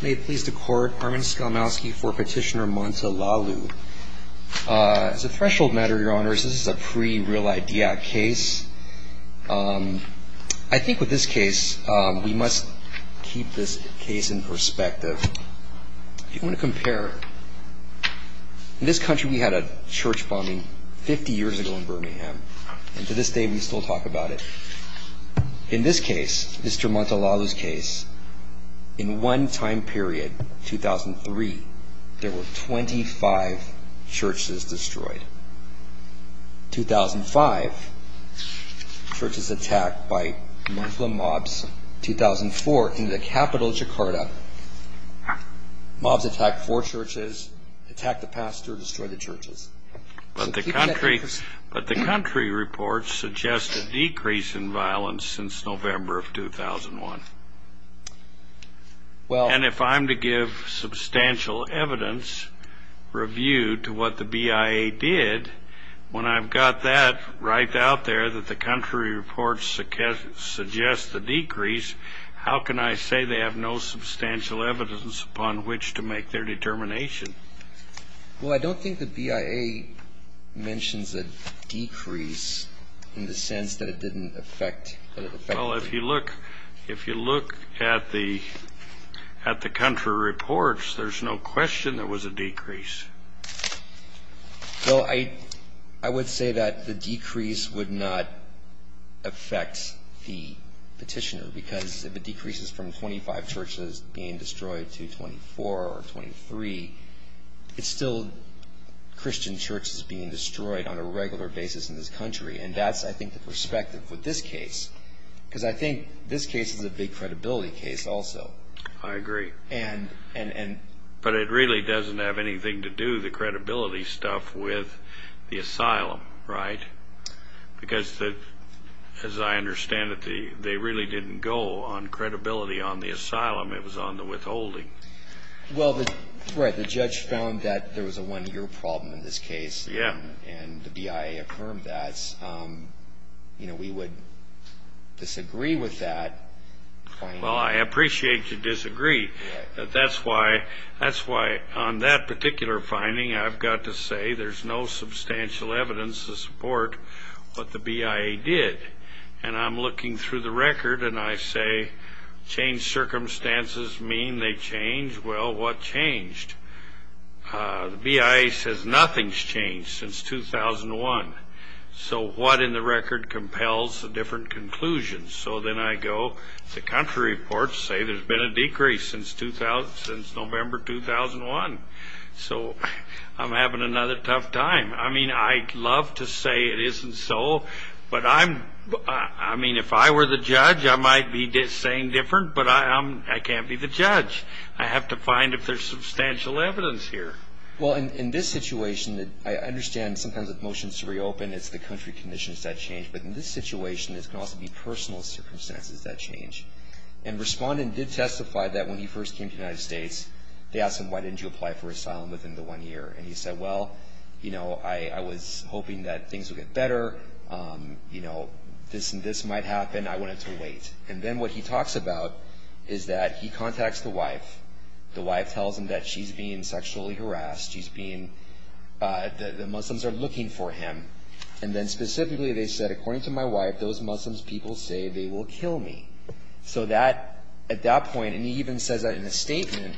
May it please the Court, Armin Skolmowsky for Petitioner Montolalu. As a threshold matter, Your Honors, this is a pre-Real Idea case. I think with this case we must keep this case in perspective. If you want to compare, in this country we had a church bombing 50 years ago in Birmingham, and to this day we still talk about it. In this case, Mr. Montolalu's case, in one time period, 2003, there were 25 churches destroyed. 2005, churches attacked by Muslim mobs. 2004, in the capital, Jakarta, mobs attacked four churches, attacked the pastor, destroyed the churches. But the country reports suggest a decrease in violence since November of 2001. And if I'm to give substantial evidence, review, to what the BIA did, when I've got that right out there that the country reports suggest a decrease, how can I say they have no substantial evidence upon which to make their determination? Well, I don't think the BIA mentions a decrease in the sense that it didn't affect the country. Well, if you look at the country reports, there's no question there was a decrease. Well, I would say that the decrease would not affect the petitioner, because if it decreases from 25 churches being destroyed to 24 or 23, it's still Christian churches being destroyed on a regular basis in this country. And that's, I think, the perspective with this case, because I think this case is a big credibility case also. I agree. But it really doesn't have anything to do, the credibility stuff, with the asylum, right? Because, as I understand it, they really didn't go on credibility on the asylum. It was on the withholding. Well, the judge found that there was a one-year problem in this case. Yeah. And the BIA affirmed that. You know, we would disagree with that finding. Well, I appreciate your disagree. That's why on that particular finding I've got to say there's no substantial evidence to support what the BIA did. And I'm looking through the record, and I say, change circumstances mean they change? Well, what changed? The BIA says nothing's changed since 2001. So what in the record compels the different conclusions? So then I go, the country reports say there's been a decrease since November 2001. So I'm having another tough time. I mean, I'd love to say it isn't so, but I'm ‑‑ I mean, if I were the judge, I might be saying different, but I can't be the judge. I have to find if there's substantial evidence here. Well, in this situation, I understand sometimes with motions to reopen, it's the country conditions that change. But in this situation, there can also be personal circumstances that change. And Respondent did testify that when he first came to the United States, they asked him, why didn't you apply for asylum within the one year? And he said, well, you know, I was hoping that things would get better. You know, this and this might happen. I wanted to wait. And then what he talks about is that he contacts the wife. The wife tells him that she's being sexually harassed. She's being ‑‑ the Muslims are looking for him. And then specifically they said, according to my wife, those Muslims people say they will kill me. So that ‑‑ at that point, and he even says that in a statement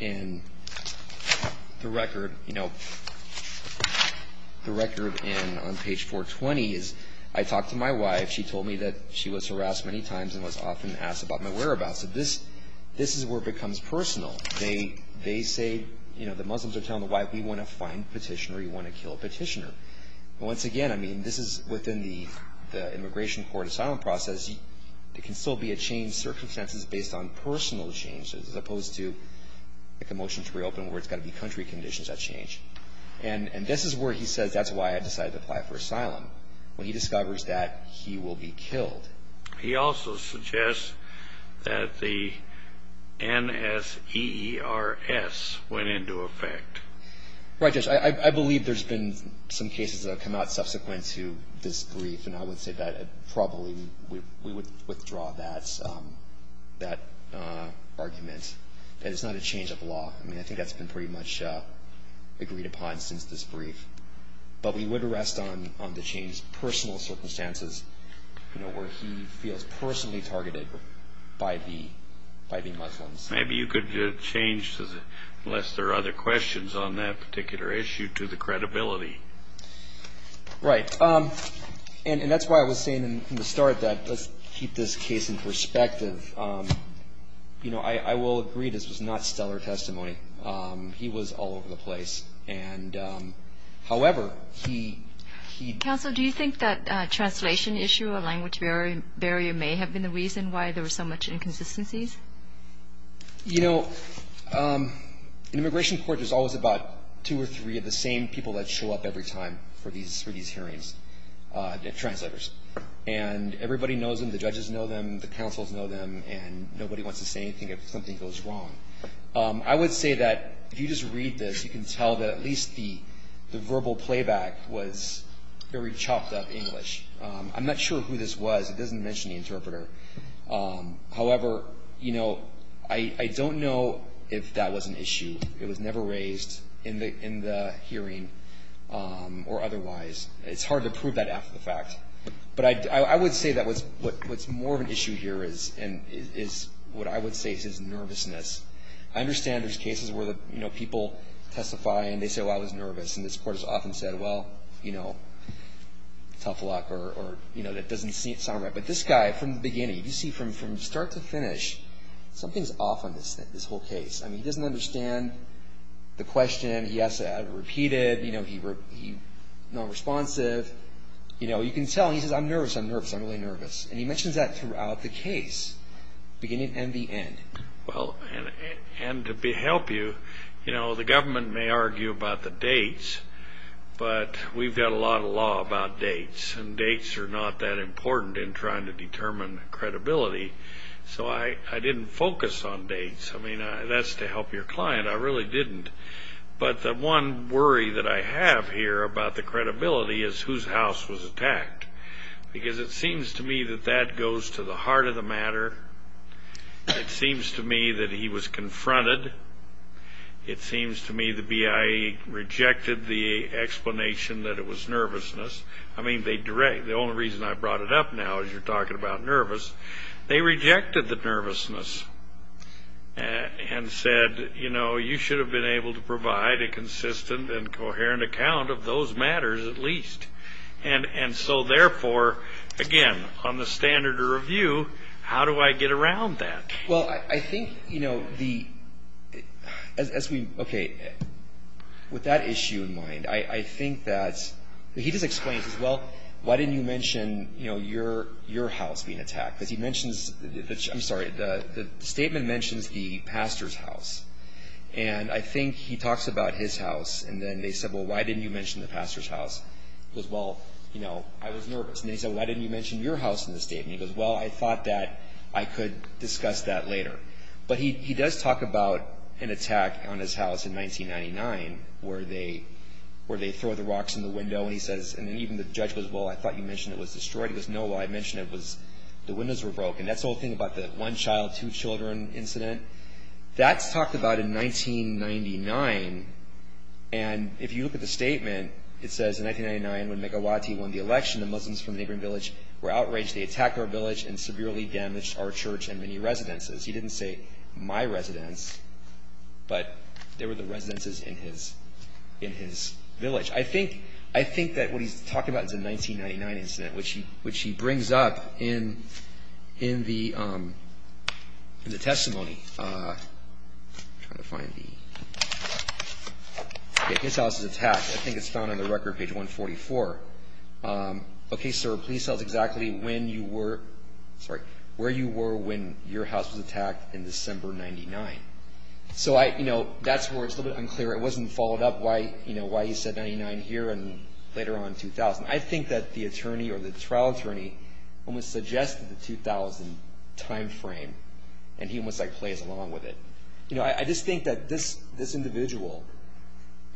in the record, you know, the record on page 420 is, I talked to my wife. She told me that she was harassed many times and was often asked about my whereabouts. This is where it becomes personal. They say, you know, the Muslims are telling the wife, we want to find a petitioner. We want to kill a petitioner. Once again, I mean, this is within the immigration court asylum process. There can still be a change, circumstances based on personal changes, as opposed to like a motion to reopen where it's got to be country conditions that change. And this is where he says, that's why I decided to apply for asylum. When he discovers that, he will be killed. He also suggests that the NSEERS went into effect. Right, Judge. I believe there's been some cases that have come out subsequent to this brief, and I would say that probably we would withdraw that argument. That it's not a change of law. I mean, I think that's been pretty much agreed upon since this brief. But we would rest on the change of personal circumstances, you know, where he feels personally targeted by the Muslims. Maybe you could change, unless there are other questions on that particular issue, to the credibility. Right. And that's why I was saying in the start that let's keep this case in perspective. You know, I will agree this was not stellar testimony. He was all over the place. And, however, he- Counsel, do you think that translation issue, a language barrier, may have been the reason why there was so much inconsistencies? You know, in immigration court, there's always about two or three of the same people that show up every time for these hearings, translators. And everybody knows them. The judges know them. The counsels know them. And nobody wants to say anything if something goes wrong. I would say that if you just read this, you can tell that at least the verbal playback was very chopped up English. I'm not sure who this was. It doesn't mention the interpreter. However, you know, I don't know if that was an issue. It was never raised in the hearing or otherwise. It's hard to prove that after the fact. But I would say that what's more of an issue here is what I would say is nervousness. I understand there's cases where, you know, people testify and they say, well, I was nervous. And this court has often said, well, you know, tough luck. Or, you know, that doesn't sound right. But this guy, from the beginning, you see from start to finish, something's off on this whole case. I mean, he doesn't understand the question. He has to have it repeated. You know, he's nonresponsive. You know, you can tell. He says, I'm nervous, I'm nervous, I'm really nervous. And he mentions that throughout the case, beginning and the end. Well, and to help you, you know, the government may argue about the dates. But we've got a lot of law about dates. And dates are not that important in trying to determine credibility. So I didn't focus on dates. I mean, that's to help your client. I really didn't. But the one worry that I have here about the credibility is whose house was attacked. Because it seems to me that that goes to the heart of the matter. It seems to me that he was confronted. It seems to me the BIA rejected the explanation that it was nervousness. I mean, the only reason I brought it up now is you're talking about nervous. They rejected the nervousness and said, you know, you should have been able to provide a consistent and coherent account of those matters at least. And so, therefore, again, on the standard of review, how do I get around that? Well, I think, you know, as we – okay, with that issue in mind, I think that – he just explains, well, why didn't you mention, you know, your house being attacked? Because he mentions – I'm sorry, the statement mentions the pastor's house. And I think he talks about his house. And then they said, well, why didn't you mention the pastor's house? He goes, well, you know, I was nervous. And they said, why didn't you mention your house in the statement? He goes, well, I thought that I could discuss that later. But he does talk about an attack on his house in 1999 where they throw the rocks in the window. And he says – and even the judge goes, well, I thought you mentioned it was destroyed. He goes, no, well, I mentioned it was – the windows were broken. That's the whole thing about the one child, two children incident. That's talked about in 1999. And if you look at the statement, it says in 1999 when Megawati won the election, the Muslims from the neighboring village were outraged. They attacked our village and severely damaged our church and many residences. He didn't say my residence, but there were the residences in his village. I think that what he's talking about is a 1999 incident, which he brings up in the testimony. I'm trying to find the – okay, his house was attacked. I think it's found on the record page 144. Okay, sir, please tell us exactly when you were – sorry – where you were when your house was attacked in December 1999. So, you know, that's where it's a little bit unclear. It wasn't followed up, you know, why he said 1999 here and later on 2000. I think that the attorney or the trial attorney almost suggested the 2000 timeframe, and he almost, like, plays along with it. You know, I just think that this individual –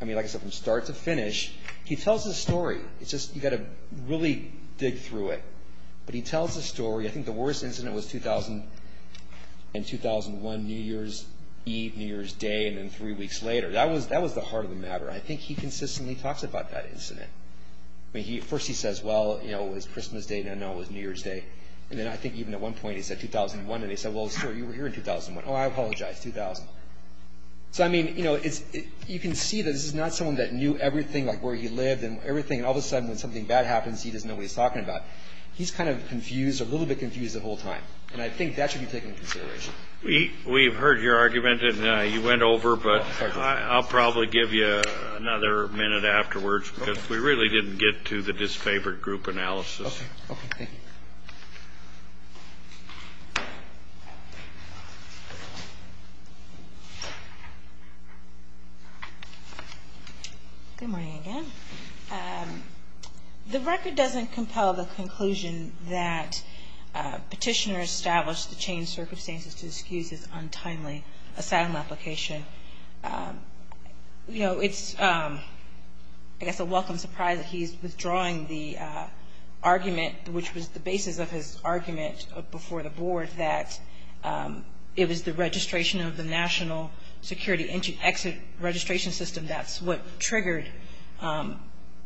I mean, like I said, from start to finish, he tells his story. It's just you've got to really dig through it. But he tells his story. I think the worst incident was in 2001, New Year's Eve, New Year's Day, and then three weeks later. That was the heart of the matter. I think he consistently talks about that incident. I mean, first he says, well, you know, it was Christmas Day, and now it was New Year's Day. And then I think even at one point he said 2001, and he said, well, sir, you were here in 2001. Oh, I apologize, 2000. So, I mean, you know, you can see that this is not someone that knew everything, like where he lived and everything. And all of a sudden when something bad happens, he doesn't know what he's talking about. He's kind of confused, a little bit confused the whole time. And I think that should be taken into consideration. We've heard your argument, and you went over. But I'll probably give you another minute afterwards, because we really didn't get to the disfavored group analysis. Okay. Good morning again. The record doesn't compel the conclusion that Petitioner established the changed circumstances to excuse his untimely asylum application. You know, it's, I guess, a welcome surprise that he's withdrawing the argument, which was the basis of his argument before the board, that it was the registration of the National Security Exit Registration System that's what triggered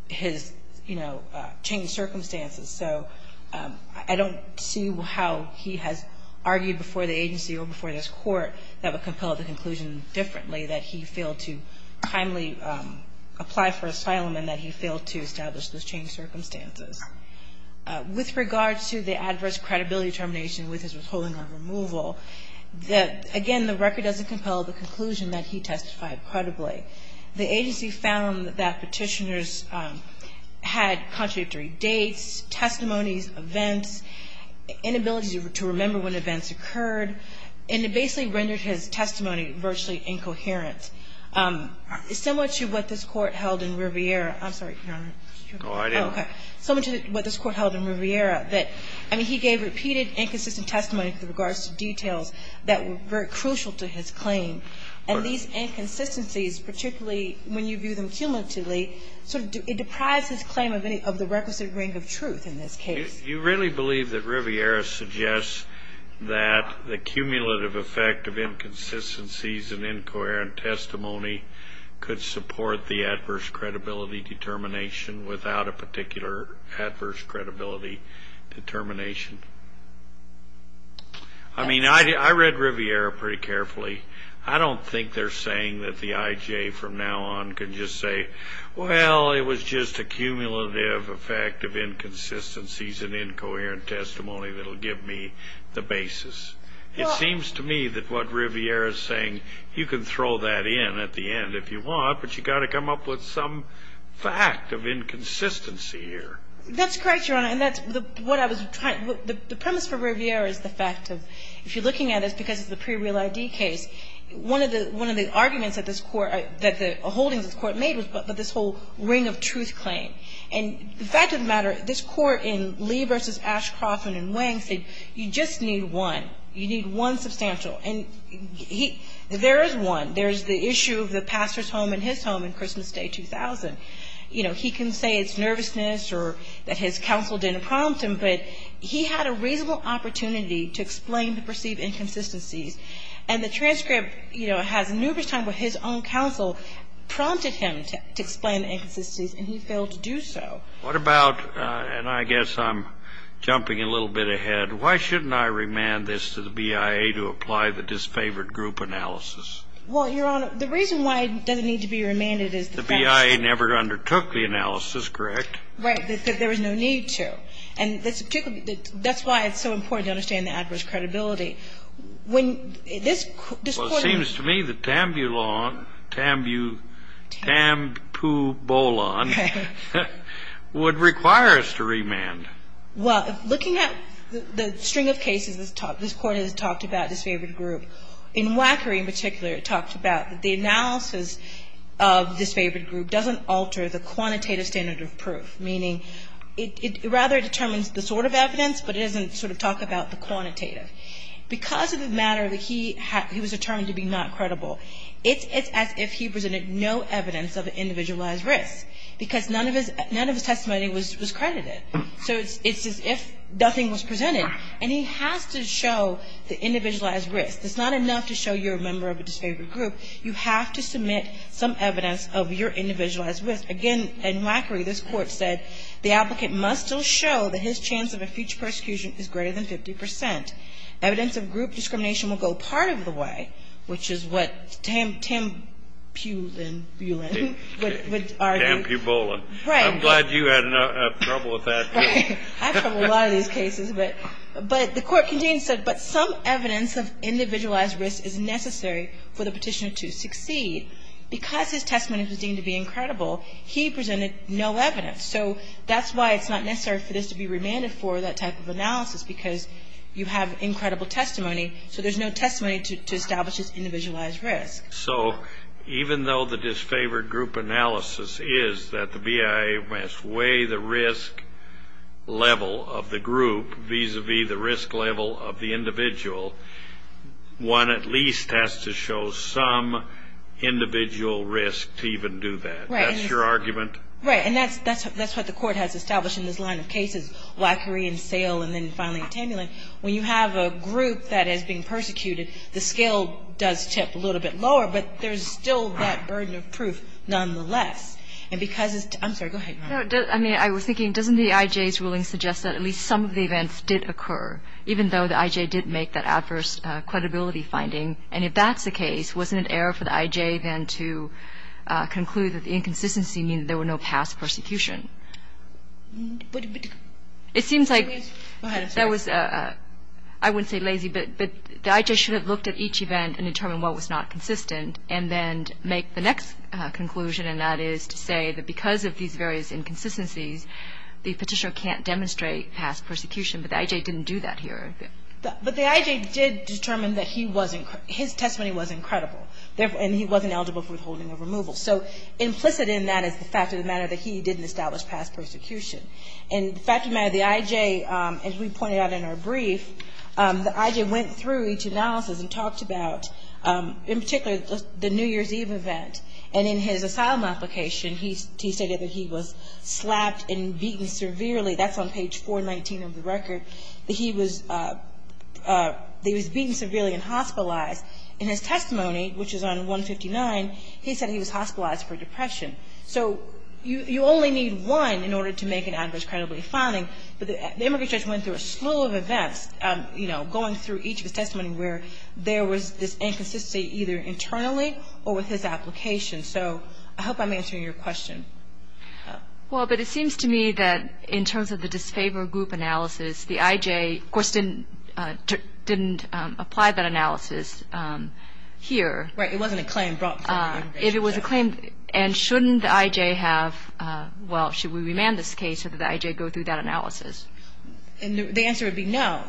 his, you know, changed circumstances. So I don't see how he has argued before the agency or before this court that would compel the conclusion differently, that he failed to timely apply for asylum and that he failed to establish those changed circumstances. With regards to the adverse credibility determination with his withholding or removal, again, the record doesn't compel the conclusion that he testified credibly. The agency found that Petitioner's had contradictory dates, testimonies, events, inability to remember when events occurred, and it basically rendered his testimony virtually incoherent. Similar to what this Court held in Riviera. I'm sorry, Your Honor. Oh, I didn't. Okay. Similar to what this Court held in Riviera, that, I mean, he gave repeated inconsistent testimony with regards to details that were very crucial to his claim. And these inconsistencies, particularly when you view them cumulatively, sort of it deprives his claim of the requisite ring of truth in this case. Do you really believe that Riviera suggests that the cumulative effect of inconsistencies and incoherent testimony could support the adverse credibility determination without a particular adverse credibility determination? I mean, I read Riviera pretty carefully. I don't think they're saying that the I.J. from now on can just say, well, it was just a cumulative effect of inconsistencies and incoherent testimony that will give me the basis. It seems to me that what Riviera is saying, you can throw that in at the end if you want, but you've got to come up with some fact of inconsistency here. That's correct, Your Honor. And that's what I was trying to do. The premise for Riviera is the fact of, if you're looking at it, because it's a pre-real ID case, one of the arguments that the holdings of the court made was about this whole ring of truth claim. And the fact of the matter, this court in Lee v. Ashcroft and in Wang said, you just need one, you need one substantial. And there is one. There's the issue of the pastor's home and his home in Christmas Day 2000. You know, he can say it's nervousness or that his counsel didn't prompt him, but he had a reasonable opportunity to explain the perceived inconsistencies. And the transcript, you know, has numerous times where his own counsel prompted him to explain the inconsistencies and he failed to do so. What about, and I guess I'm jumping a little bit ahead, why shouldn't I remand this to the BIA to apply the disfavored group analysis? Well, Your Honor, the reason why it doesn't need to be remanded is the fact that The BIA never undertook the analysis, correct? Right. That there was no need to. And this particular, that's why it's so important to understand the adverse credibility. When this court Well, it seems to me that Tambulon, Tambu, Tam-pu-bo-lon would require us to remand. Well, looking at the string of cases this court has talked about disfavored group, in Wackery in particular it talked about the analysis of disfavored group doesn't alter the quantitative standard of proof, meaning it rather determines the sort of evidence but it doesn't sort of talk about the quantitative. Because of the matter that he was determined to be not credible, it's as if he presented no evidence of an individualized risk, because none of his testimony was credited. So it's as if nothing was presented. And he has to show the individualized risk. It's not enough to show you're a member of a disfavored group. You have to submit some evidence of your individualized risk. Again, in Wackery, this court said, the applicant must still show that his chance of a future persecution is greater than 50 percent. Evidence of group discrimination will go part of the way, which is what Tam-pu-lon would argue. Tam-pu-bo-lon. Right. I'm glad you had trouble with that, too. Right. I have trouble with a lot of these cases. But the court continues to say, but some evidence of individualized risk is necessary for the petitioner to succeed. Because his testimony was deemed to be incredible, he presented no evidence. So that's why it's not necessary for this to be remanded for that type of analysis, because you have incredible testimony, so there's no testimony to establish his individualized risk. So even though the disfavored group analysis is that the BIA must weigh the risk level of the group, vis-a-vis the risk level of the individual, one at least has to show some individual risk to even do that. Right. That's your argument? Right. And that's what the court has established in this line of cases, Wackery and Sale and then finally Tam-pu-lon. When you have a group that is being persecuted, the scale does tip a little bit lower, but there's still that burden of proof nonetheless. And because it's – I'm sorry. Go ahead, Your Honor. I mean, I was thinking, doesn't the I.J.'s ruling suggest that at least some of the events did occur, even though the I.J. did make that adverse credibility finding? And if that's the case, wasn't it error for the I.J. then to conclude that the inconsistency means there were no past persecution? It seems like – Go ahead. That was – I wouldn't say lazy, but the I.J. should have looked at each event and determined what was not consistent and then make the next conclusion, and that is to say that because of these various inconsistencies, the Petitioner can't demonstrate past persecution, but the I.J. didn't do that here. But the I.J. did determine that he wasn't – his testimony wasn't credible, and he wasn't eligible for withholding or removal. So implicit in that is the fact of the matter that he didn't establish past persecution. And the fact of the matter, the I.J., as we pointed out in our brief, the I.J. went through each analysis and talked about, in particular, the New Year's Eve event. And in his asylum application, he stated that he was slapped and beaten severely. That's on page 419 of the record, that he was beaten severely and hospitalized. In his testimony, which is on 159, he said he was hospitalized for depression. So you only need one in order to make an adverse credibility finding. But the immigration judge went through a slew of events, you know, going through each of his testimonies where there was this inconsistency either internally or with his application. So I hope I'm answering your question. Well, but it seems to me that in terms of the disfavored group analysis, the I.J., of course, didn't apply that analysis here. Right. It wasn't a claim brought before the immigration judge. But if it was a claim, and shouldn't the I.J. have, well, should we remand this case so that the I.J. go through that analysis? The answer would be no.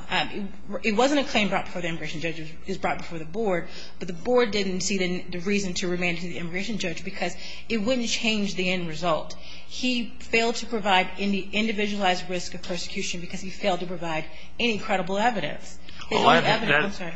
It wasn't a claim brought before the immigration judge. It was brought before the board. But the board didn't see the reason to remand the immigration judge because it wouldn't change the end result. He failed to provide any individualized risk of persecution because he failed to provide any credible evidence. That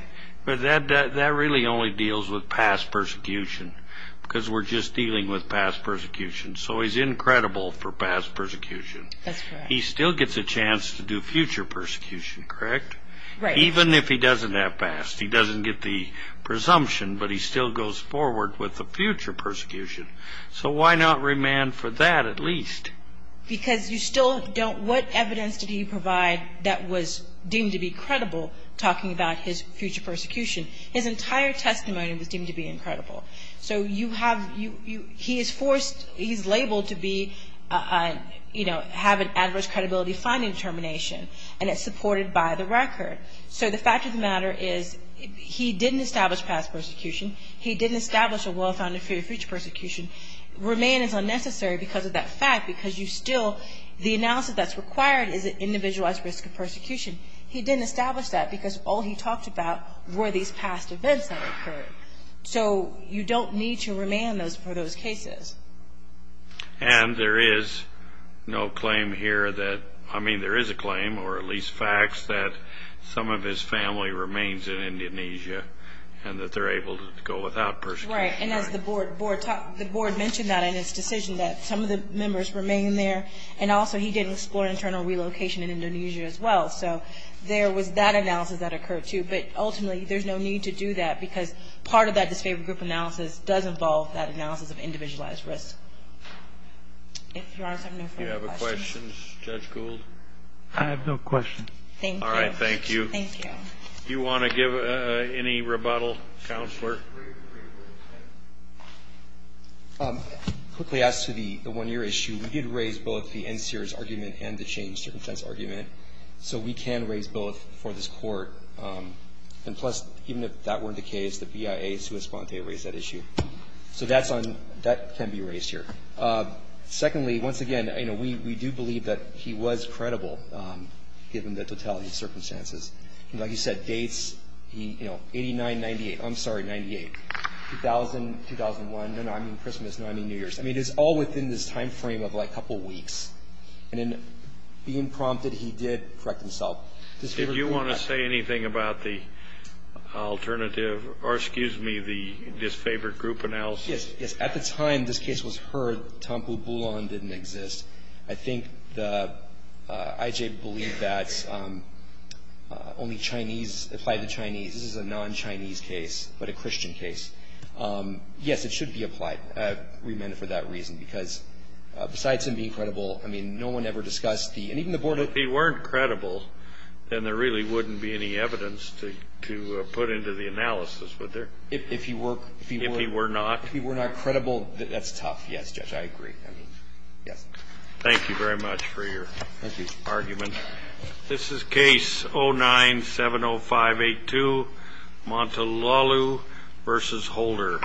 really only deals with past persecution because we're just dealing with past persecution. So he's incredible for past persecution. That's right. He still gets a chance to do future persecution, correct? Right. Even if he doesn't have past, he doesn't get the presumption, but he still goes forward with the future persecution. So why not remand for that at least? Because you still don't, what evidence did he provide that was deemed to be credible, talking about his future persecution? His entire testimony was deemed to be incredible. So you have, he is forced, he's labeled to be, you know, have an adverse credibility finding determination, and it's supported by the record. So the fact of the matter is he didn't establish past persecution. He didn't establish a well-founded fear of future persecution. Remand is unnecessary because of that fact because you still, the analysis that's required is an individualized risk of persecution. He didn't establish that because all he talked about were these past events that occurred. So you don't need to remand for those cases. And there is no claim here that, I mean, there is a claim, or at least facts that some of his family remains in Indonesia and that they're able to go without persecution. That's right. And as the board mentioned that in his decision that some of the members remain there, and also he didn't explore internal relocation in Indonesia as well. So there was that analysis that occurred too. But ultimately there's no need to do that because part of that disfavored group analysis does involve that analysis of individualized risk. If Your Honor, I have no further questions. Do you have a question, Judge Gould? I have no question. Thank you. All right, thank you. Thank you. Do you want to give any rebuttal, Counselor? Quickly, as to the one-year issue, we did raise both the NCRS argument and the chained-circumstance argument. So we can raise both for this court. And plus, even if that weren't the case, the BIA sui sponte raised that issue. So that can be raised here. Secondly, once again, we do believe that he was credible, given the totality of circumstances. Like you said, dates, you know, 89-98. I'm sorry, 98. 2000, 2001. No, no, I mean Christmas. No, I mean New Year's. I mean, it's all within this time frame of like a couple weeks. And in being prompted, he did correct himself. Did you want to say anything about the alternative or, excuse me, the disfavored group analysis? Yes. At the time this case was heard, Tompou-Boulon didn't exist. I think the IJ believed that only Chinese applied to Chinese. This is a non-Chinese case, but a Christian case. Yes, it should be applied. We meant it for that reason. Because besides him being credible, I mean, no one ever discussed the – and even the Board of – If he weren't credible, then there really wouldn't be any evidence to put into the analysis, would there? If he were. If he were not. If he were not credible, that's tough. Yes, Judge, I agree. I mean, yes. Thank you very much for your argument. Thank you. This is Case 09-70582, Montelalu v. Holder.